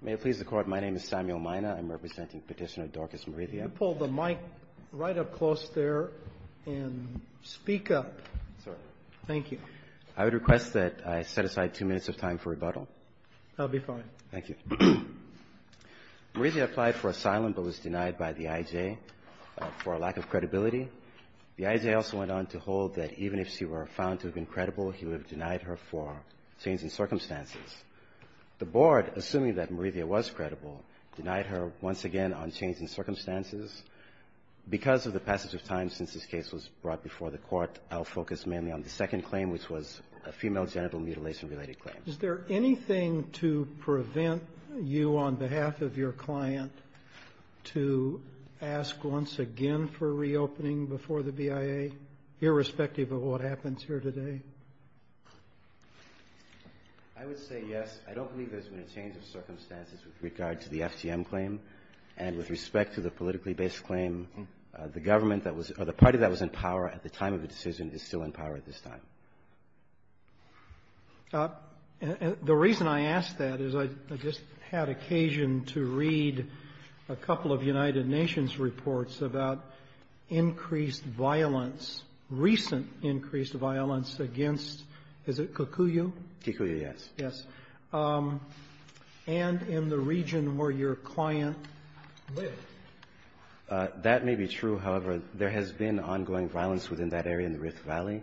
May it please the Court, my name is Samuel Mina. I'm representing Petitioner Dorcas Morithia. Pull the mic right up close there and speak up. Sorry. Thank you. I would request that I set aside two minutes of time for rebuttal. That would be fine. Thank you. Morithia applied for asylum but was denied by the IJ for a lack of credibility. The IJ also went on to hold that even if she were found to have been credible, he would have denied her for changing circumstances. The Board, assuming that Morithia was credible, denied her once again on changing circumstances. Because of the passage of time since this case was brought before the Court, I'll focus mainly on the second claim, which was a female genital mutilation related claim. Is there anything to prevent you on behalf of your client to ask once again for reopening before the BIA, irrespective of what happens here today? I would say yes. I don't believe there's been a change of circumstances with regard to the FTM claim. And with respect to the politically based claim, the government that was or the party that was in power at the time of the decision is still in power at this time. The reason I ask that is I just had occasion to read a couple of United Nations reports about increased violence, recent increased violence against, is it Kikuyu? Kikuyu, yes. Yes. And in the region where your client lived. That may be true. However, there has been ongoing violence within that area in the Rift Valley.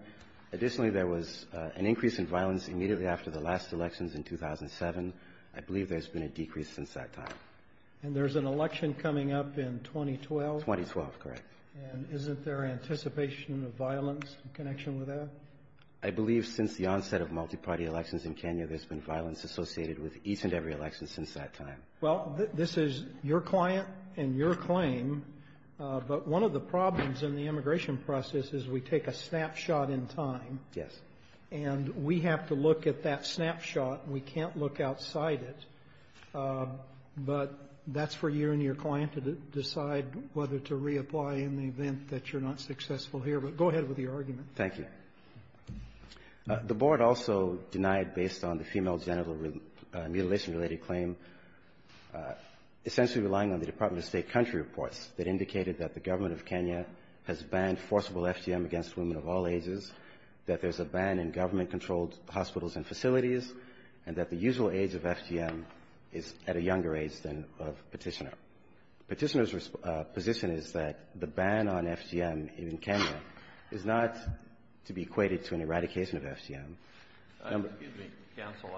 Additionally, there was an increase in violence immediately after the last elections in 2007. I believe there's been a decrease since that time. And there's an election coming up in 2012? 2012, correct. And isn't there anticipation of violence in connection with that? I believe since the onset of multi-party elections in Kenya, there's been violence associated with each and every election since that time. Well, this is your client and your claim. But one of the problems in the immigration process is we take a snapshot in time. Yes. And we have to look at that snapshot. We can't look outside it. But that's for you and your client to decide whether to reapply in the event that you're not successful here. But go ahead with your argument. Thank you. The board also denied, based on the female genital mutilation-related claim, essentially relying on the Department of State country reports that indicated that the government of Kenya has banned forcible FGM against women of all ages, that there's a ban in government-controlled hospitals and facilities, and that the usual age of FGM is at a younger age than of Petitioner. Petitioner's position is that the ban on FGM in Kenya is not to be equated to an eradication of FGM. Excuse me, counsel.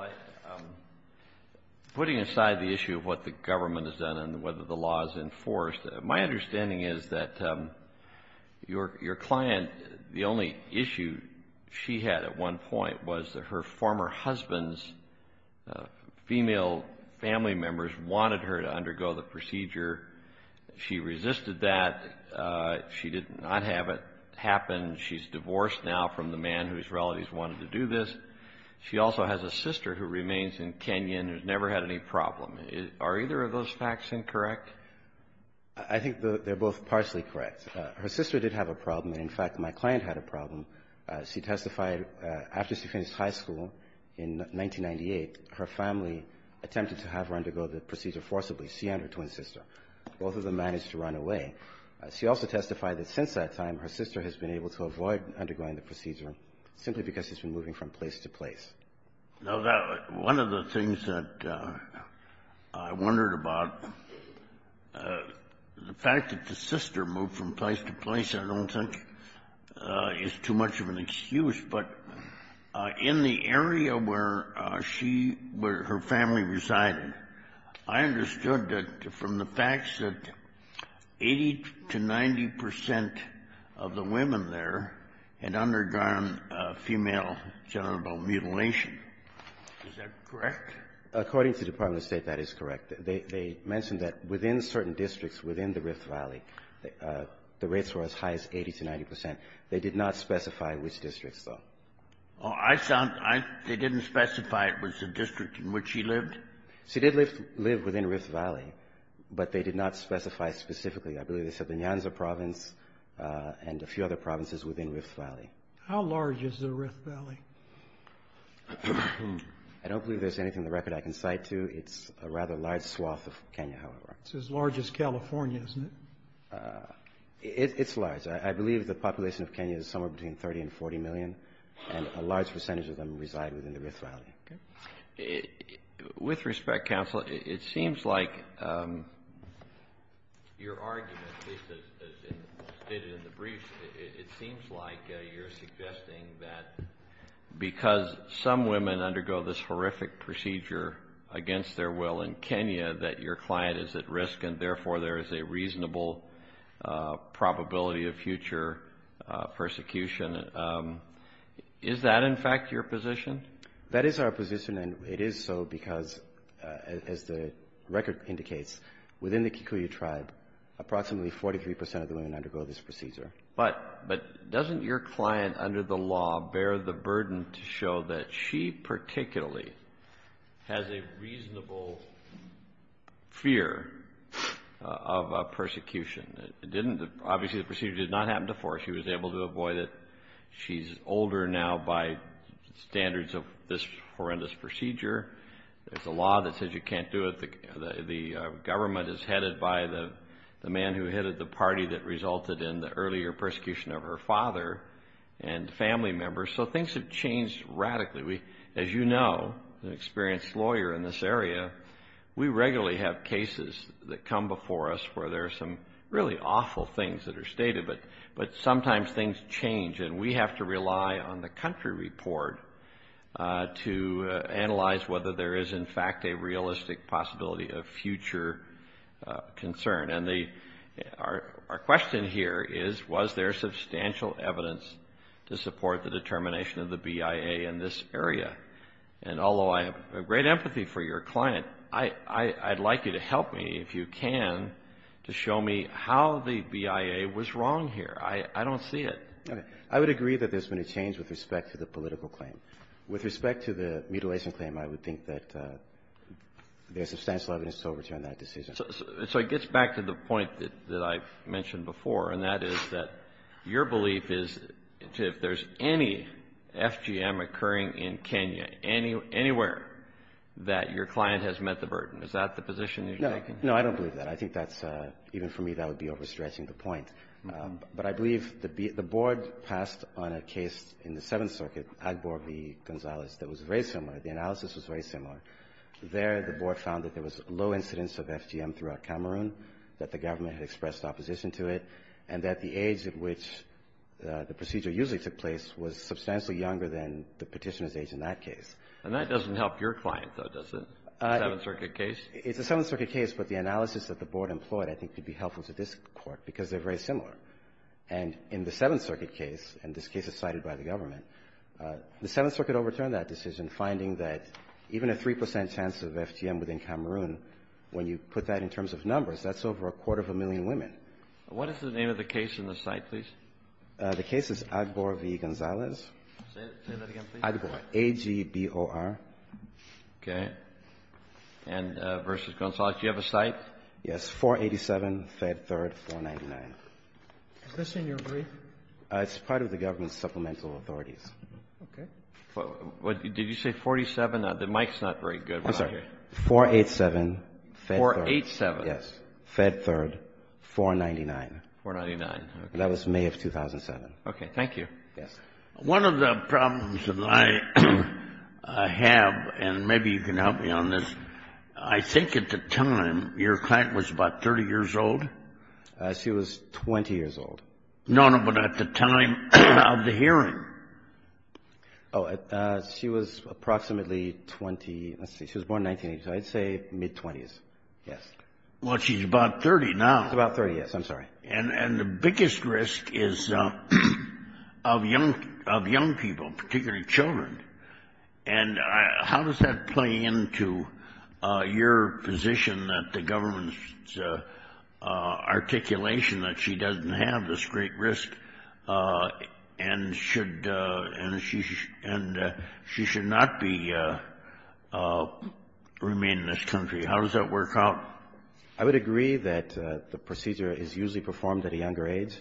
Putting aside the issue of what the government has done and whether the law is enforced, my understanding is that your client, the only issue she had at one point was that her former husband's female family members wanted her to undergo the procedure. She resisted that. She did not have it happen. She's divorced now from the man whose relatives wanted to do this. She also has a sister who remains in Kenya and has never had any problem. Are either of those facts incorrect? I think they're both partially correct. Her sister did have a problem, and, in fact, my client had a problem. She testified after she finished high school in 1998, her family attempted to have her undergo the procedure forcibly. She and her twin sister, both of them managed to run away. She also testified that since that time, her sister has been able to avoid undergoing the procedure simply because she's been moving from place to place. Now, one of the things that I wondered about, the fact that the sister moved from place to place I don't think is too much of an excuse, but in the area where she, where her family resided, I understood that from the facts that 80 to 90 percent of the women there had undergone female genital mutilation. Is that correct? According to the Department of State, that is correct. They mentioned that within certain districts within the Rift Valley, the rates were as high as 80 to 90 percent. They did not specify which districts, though. Oh, I sound they didn't specify it was the district in which she lived? She did live within Rift Valley, but they did not specify specifically. I believe they said the Nyanza Province and a few other provinces within Rift Valley. How large is the Rift Valley? I don't believe there's anything in the record I can cite to. It's a rather large swath of Kenya, however. It's as large as California, isn't it? It's large. I believe the population of Kenya is somewhere between 30 and 40 million, and a large percentage of them reside within the Rift Valley. With respect, counsel, it seems like your argument, at least as stated in the briefs, it seems like you're suggesting that because some women undergo this horrific procedure against their will in Kenya, that your client is at risk and therefore there is a reasonable probability of future persecution. Is that, in fact, your position? That is our position, and it is so because, as the record indicates, within the Kikuyu Tribe, approximately 43 percent of the women undergo this procedure. But doesn't your client under the law bear the burden to show that she particularly has a reasonable fear of persecution? Obviously, the procedure did not happen before. She was able to avoid it. She's older now by standards of this horrendous procedure. There's a law that says you can't do it. The government is headed by the man who headed the party that resulted in the earlier persecution of her father and family members. So things have changed radically. As you know, an experienced lawyer in this area, we regularly have cases that come before us where there are some really awful things that are stated, but sometimes things change and we have to rely on the country report to analyze whether there is, in fact, a realistic possibility of future concern. And our question here is, was there substantial evidence to support the determination of the BIA in this area? And although I have great empathy for your client, I'd like you to help me, if you can, to show me how the BIA was wrong here. I don't see it. I would agree that there's been a change with respect to the political claim. With respect to the mutilation claim, I would think that there's substantial evidence to overturn that decision. So it gets back to the point that I've mentioned before, and that is that your belief is if there's any FGM occurring in Kenya, anywhere that your client has met the burden, is that the position you're taking? No, I don't believe that. I think that's, even for me, that would be overstretching the point. But I believe the Board passed on a case in the Seventh Circuit, Agbor v. Gonzalez, that was very similar. The analysis was very similar. There, the Board found that there was low incidence of FGM throughout Cameroon, that the government had expressed opposition to it, and that the age at which the procedure usually took place was substantially younger than the Petitioner's age in that case. And that doesn't help your client, though, does it, the Seventh Circuit case? It's the Seventh Circuit case, but the analysis that the Board employed, I think, could be helpful to this Court because they're very similar. And in the Seventh Circuit case, and this case is cited by the government, the Seventh Circuit overturned that decision, finding that even a 3 percent chance of FGM within Cameroon, when you put that in terms of numbers, that's over a quarter of a million women. What is the name of the case in the cite, please? The case is Agbor v. Gonzalez. Say that again, please. Agbor, A-G-B-O-R. Okay. And versus Gonzalez, do you have a cite? Yes, 487, Fed 3rd, 499. Is this in your brief? It's part of the government's supplemental authorities. Okay. Did you say 47? The mic's not very good. I'm sorry. 487, Fed 3rd. 487. Yes. Fed 3rd, 499. 499. Okay. That was May of 2007. Okay. Thank you. Yes. One of the problems that I have, and maybe you can help me on this, I think at the time your client was about 30 years old? She was 20 years old. No, no, but at the time of the hearing. Oh, she was approximately 20. Let's see. She was born in 1980, so I'd say mid-20s. Yes. Well, she's about 30 now. She's about 30, yes. I'm sorry. And the biggest risk is of young people, particularly children. And how does that play into your position that the government's articulation that she doesn't have this great risk and she should not remain in this country? How does that work out? I would agree that the procedure is usually performed at a younger age.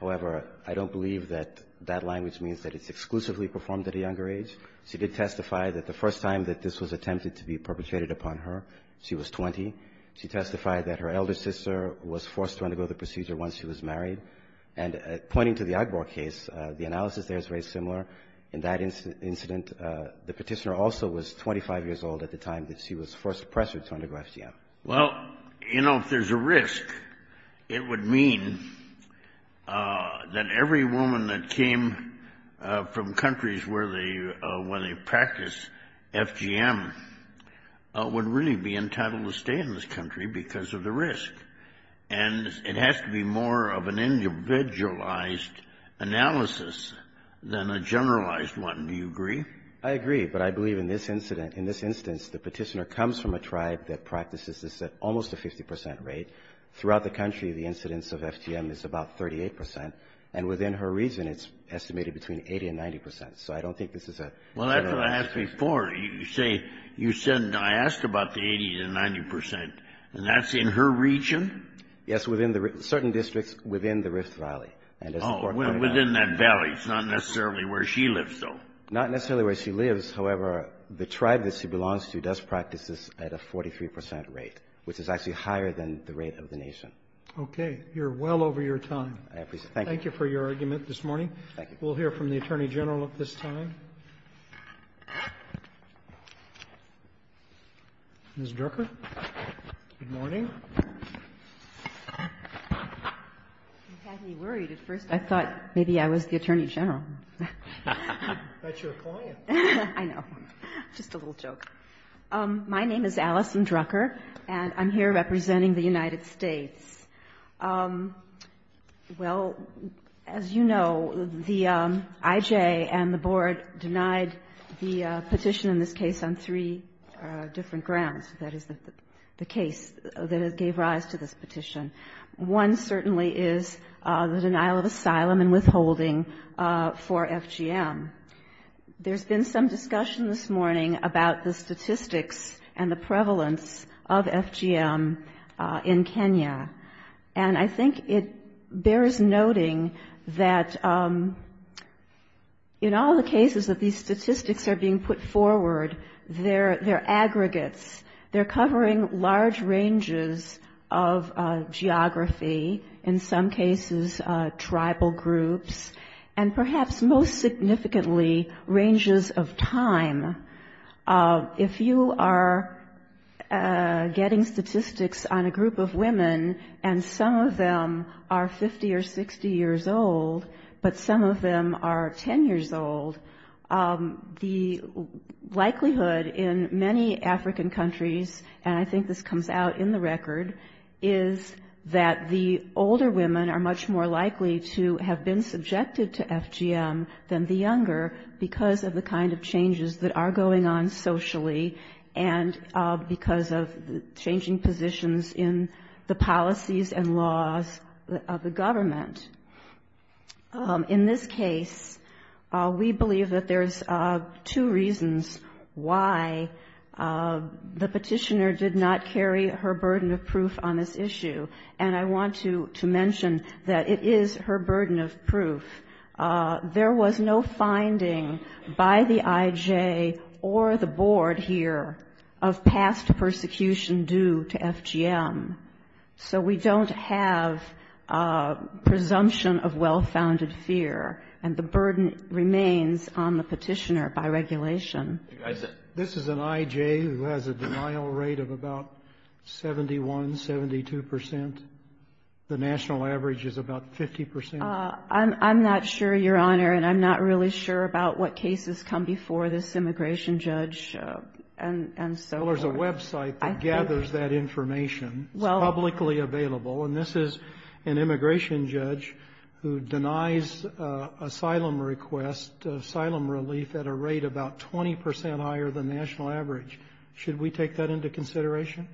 However, I don't believe that that language means that it's exclusively performed at a younger age. She did testify that the first time that this was attempted to be perpetrated upon her, she was 20. She testified that her elder sister was forced to undergo the procedure once she was married. And pointing to the Agbor case, the analysis there is very similar. In that incident, the petitioner also was 25 years old at the time that she was forced to press her to undergo FGM. Well, you know, if there's a risk, it would mean that every woman that came from countries where they practice FGM would really be entitled to stay in this country because of the risk. And it has to be more of an individualized analysis than a generalized one. Do you agree? I agree. But I believe in this incident, in this instance, the petitioner comes from a tribe that practices this at almost a 50 percent rate. Throughout the country, the incidence of FGM is about 38 percent. And within her region, it's estimated between 80 and 90 percent. So I don't think this is a generalization. Well, that's what I asked before. You say you said I asked about the 80 to 90 percent, and that's in her region? Yes, within the certain districts within the Rift Valley. Oh, within that valley. It's not necessarily where she lives, though. Not necessarily where she lives. However, the tribe that she belongs to does practice this at a 43 percent rate, which is actually higher than the rate of the nation. Okay. You're well over your time. Thank you. Thank you for your argument this morning. Thank you. We'll hear from the Attorney General at this time. Ms. Drucker? Good morning. You had me worried at first. I thought maybe I was the Attorney General. That's your client. I know. Just a little joke. My name is Allison Drucker, and I'm here representing the United States. Well, as you know, the IJ and the Board denied the petition in this case on three different grounds. That is, the case that gave rise to this petition. One certainly is the denial of asylum and withholding for FGM. There's been some discussion this morning about the statistics and the prevalence of FGM in Kenya. And I think it bears noting that in all the cases that these statistics are being put forward, they're aggregates. They're covering large ranges of geography, in some cases tribal groups, and perhaps most significantly, ranges of time. If you are getting statistics on a group of women, and some of them are 50 or 60 years old, but some of them are 10 years old, the likelihood in many African countries, and I think this comes out in the record, is that the older women are much more likely to have been subjected to FGM than the younger, because of the kind of changes that are going on socially, and because of changing positions in the policies and laws of the government. In this case, we believe that there's two reasons why the petitioner did not carry her burden of proof on this issue. And I want to mention that it is her burden of proof. There was no finding by the IJ or the Board here of past persecution due to FGM. So we don't have presumption of well-founded fear, and the burden remains on the petitioner by regulation. This is an IJ who has a denial rate of about 71, 72 percent. The national average is about 50 percent. I'm not sure, Your Honor, and I'm not really sure about what cases come before this immigration judge and so forth. There's a website that gathers that information. It's publicly available, and this is an immigration judge who denies asylum request, asylum relief at a rate about 20 percent higher than national average. Should we take that into consideration?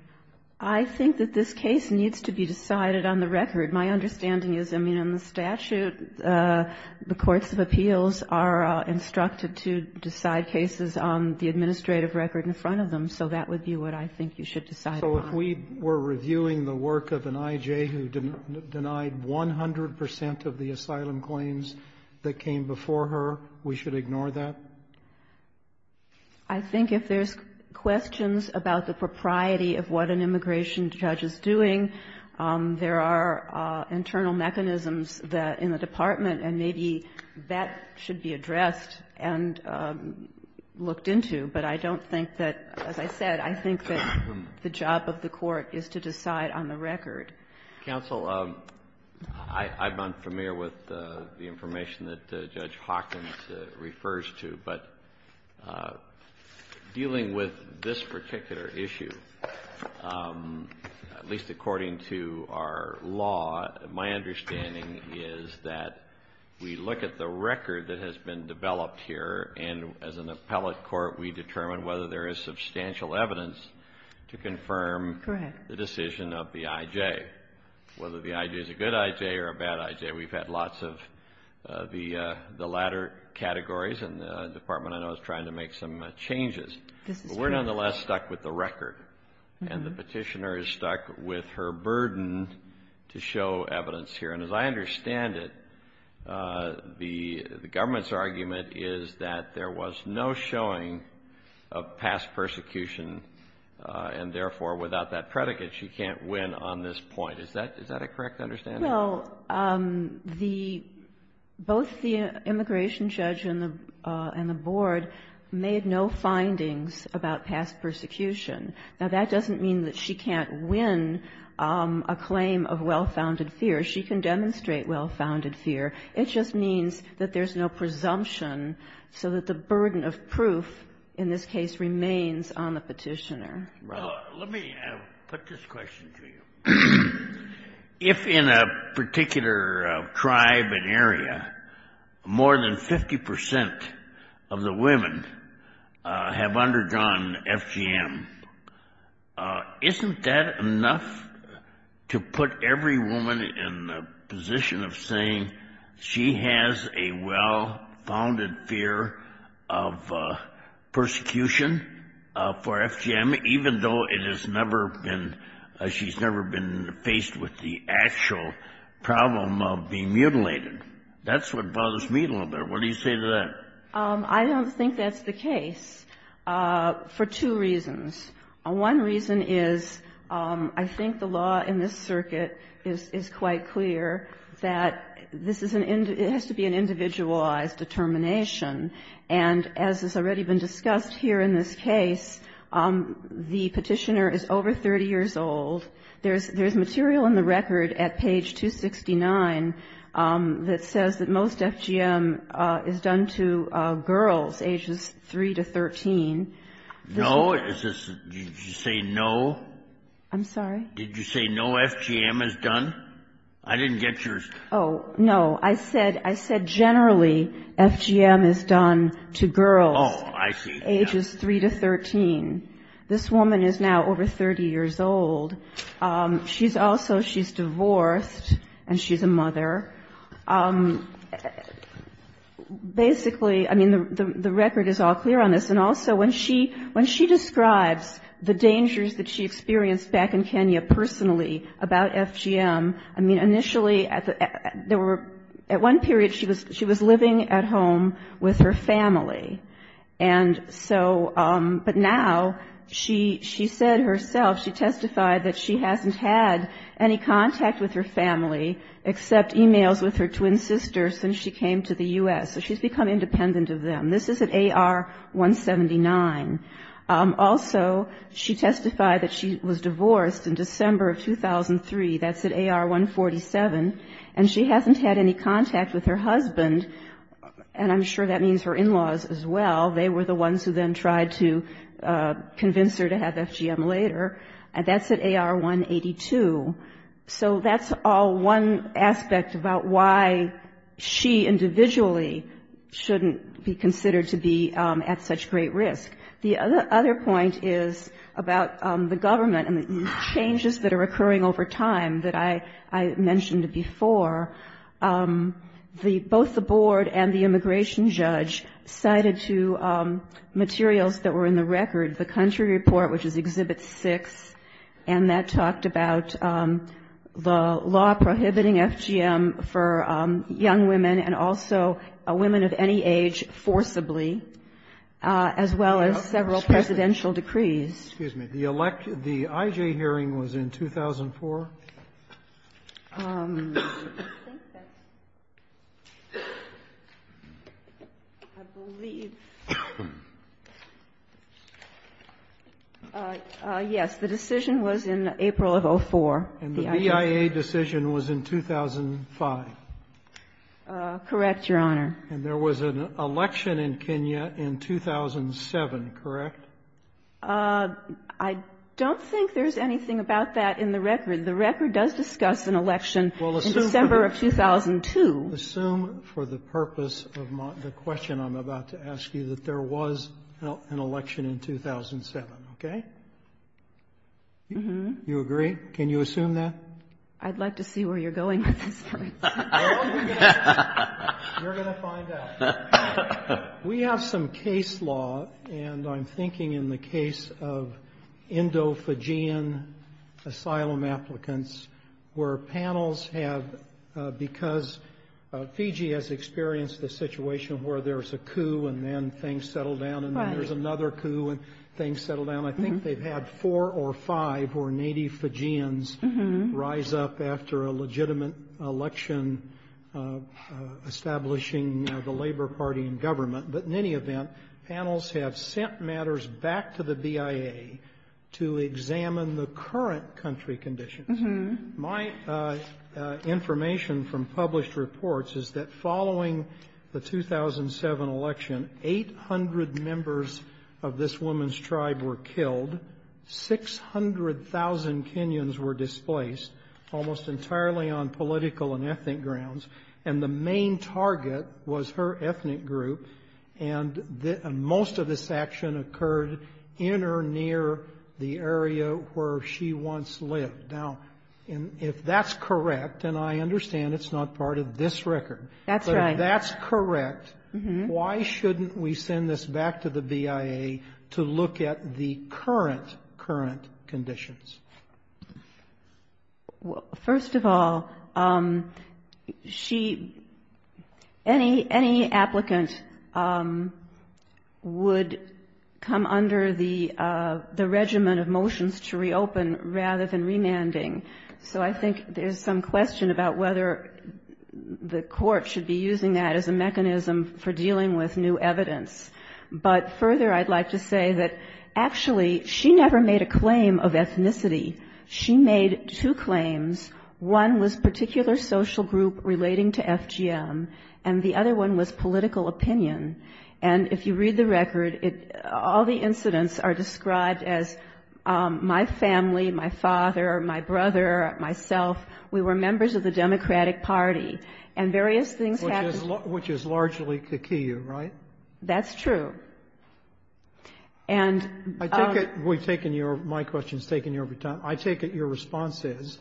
I think that this case needs to be decided on the record. My understanding is, I mean, in the statute, the courts of appeals are instructed to decide cases on the administrative record in front of them. So that would be what I think you should decide on. So if we were reviewing the work of an IJ who denied 100 percent of the asylum claims that came before her, we should ignore that? I think if there's questions about the propriety of what an immigration judge is doing, there are internal mechanisms in the department, and maybe that should be addressed and looked into, but I don't think that, as I said, I think that the job of the court is to decide on the record. Counsel, I'm unfamiliar with the information that Judge Hawkins refers to, but dealing with this particular issue, at least according to our law, my understanding is that we look at the record that has been developed here, and as an appellate court, we determine whether there is substantial evidence to confirm the decision of the IJ, whether the IJ is a good IJ or a bad IJ. We've had lots of the latter categories, and the department I know is trying to make some changes. But we're nonetheless stuck with the record, and the Petitioner is stuck with her burden to show evidence here. And as I understand it, the government's argument is that there was no showing of past persecution, and therefore, without that predicate, she can't win on this point. Is that a correct understanding? Well, both the immigration judge and the board made no findings about past persecution. Now, that doesn't mean that she can't win a claim of well-founded fear. She can demonstrate well-founded fear. It just means that there's no presumption, so that the burden of proof in this case remains on the Petitioner. Let me put this question to you. If in a particular tribe and area, more than 50 percent of the women have undergone FGM, isn't that enough to put every woman in the position of saying she has a well-founded fear of persecution for FGM, even though it has never been, she's never been faced with the actual problem of being mutilated? That's what bothers me a little bit. What do you say to that? I don't think that's the case for two reasons. One reason is I think the law in this circuit is quite clear that this is an individual determination. And as has already been discussed here in this case, the Petitioner is over 30 years old. There's material in the record at page 269 that says that most FGM is done to girls ages 3 to 13. No? Did you say no? I'm sorry? Did you say no FGM is done? I didn't get yours. Oh, no. I said generally FGM is done to girls. Oh, I see. Ages 3 to 13. This woman is now over 30 years old. She's also, she's divorced and she's a mother. Basically, I mean, the record is all clear on this. And also when she describes the dangers that she experienced back in Kenya personally about FGM, I mean, initially there were, at one period she was living at home with her family. And so, but now she said herself, she testified that she hasn't had any contact with her family except emails with her twin sisters since she came to the U.S. So she's become independent of them. This is at AR 179. Also, she testified that she was divorced in December of 2003. That's at AR 147. And she hasn't had any contact with her husband, and I'm sure that means her in-laws as well. They were the ones who then tried to convince her to have FGM later. And that's at AR 182. So that's all one aspect about why she individually shouldn't be considered to be at such great risk. The other point is about the government and the changes that are occurring over time that I mentioned before. Both the board and the immigration judge cited two materials that were in the record, the country report, which is Exhibit 6. And that talked about the law prohibiting FGM for young women and also women of any age forcibly, as well as the several presidential decrees. Excuse me. The I.J. hearing was in 2004? I think that's right. I believe. Yes. The decision was in April of 2004. And the BIA decision was in 2005? Correct, Your Honor. And there was an election in Kenya in 2007, correct? I don't think there's anything about that in the record. The record does discuss an election in December of 2002. Assume for the purpose of the question I'm about to ask you that there was an election in 2007, okay? You agree? Can you assume that? I'd like to see where you're going with this. You're going to find out. We have some case law, and I'm thinking in the case of Indo-Fijian asylum applicants where panels have, because Fiji has experienced the situation where there's a coup and then things settle down and then there's another coup and things settle down. I think they've had four or five who are native Fijians rise up after a legitimate election establishing the Labor Party in government. But in any event, panels have sent matters back to the BIA to examine the current country conditions. My information from published reports is that following the 2007 election, 800 members of this woman's tribe were killed. 600,000 Kenyans were displaced, almost entirely on political and ethnic grounds. And the main target was her ethnic group, and most of this action occurred in or near the area where she once lived. Now, if that's correct, and I understand it's not part of this record. That's right. Why shouldn't we send this back to the BIA to look at the current, current conditions? First of all, she — any applicant would come under the regimen of motions to reopen rather than remanding. So I think there's some question about whether the court should be using that as a mechanism for dealing with new evidence. But further, I'd like to say that actually she never made a claim of ethnicity. She made two claims. One was particular social group relating to FGM, and the other one was political opinion. And if you read the record, it — all the incidents are described as my family, my father, my brother, myself. We were members of the Democratic Party, and various things happened — Which is largely kikuyu, right? That's true. And — I take it — we've taken your — my question's taken your time. I take it your response is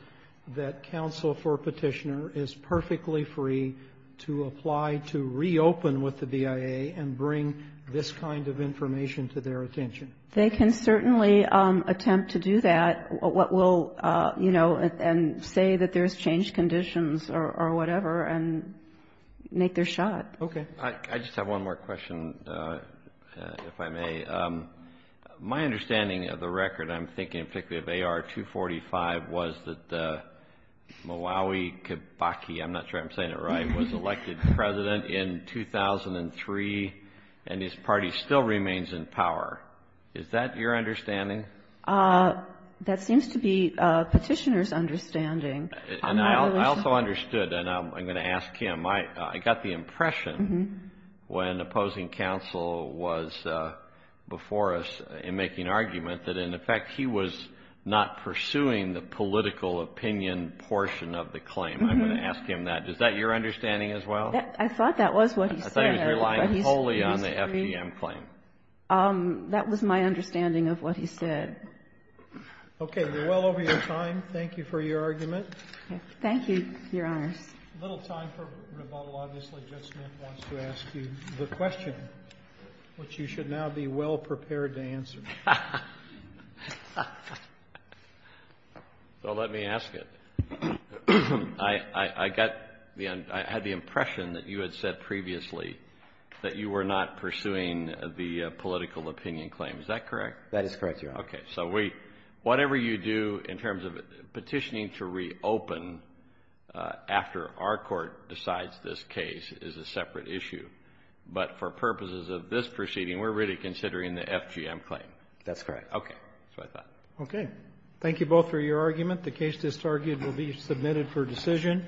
that counsel for a petitioner is perfectly free to apply to reopen with the BIA. And bring this kind of information to their attention. They can certainly attempt to do that. What will — you know, and say that there's changed conditions or whatever. And make their shot. Okay. I just have one more question, if I may. My understanding of the record, I'm thinking particularly of AR-245, was that the Malawi Kibaki — I'm not sure I'm saying it right — was elected president in 2003, and his party still remains in power. Is that your understanding? That seems to be a petitioner's understanding. And I also understood, and I'm going to ask him. I got the impression when opposing counsel was before us in making argument that, in effect, he was not pursuing the political opinion portion of the claim. I'm going to ask him that. Is that your understanding as well? I thought that was what he said. I thought he was relying wholly on the FGM claim. That was my understanding of what he said. Okay. We're well over your time. Thank you for your argument. Thank you, Your Honors. A little time for rebuttal. Obviously, Judge Smith wants to ask you the question, which you should now be well-prepared to answer. So let me ask it. I got the — I had the impression that you had said previously that you were not pursuing the political opinion claim. Is that correct? That is correct, Your Honor. Okay. So we — whatever you do in terms of petitioning to reopen after our Court decides this case is a separate issue. But for purposes of this proceeding, we're really considering the FGM claim. That's correct. Okay. That's what I thought. Okay. Thank you both for your argument. The case is targeted to be submitted for decision.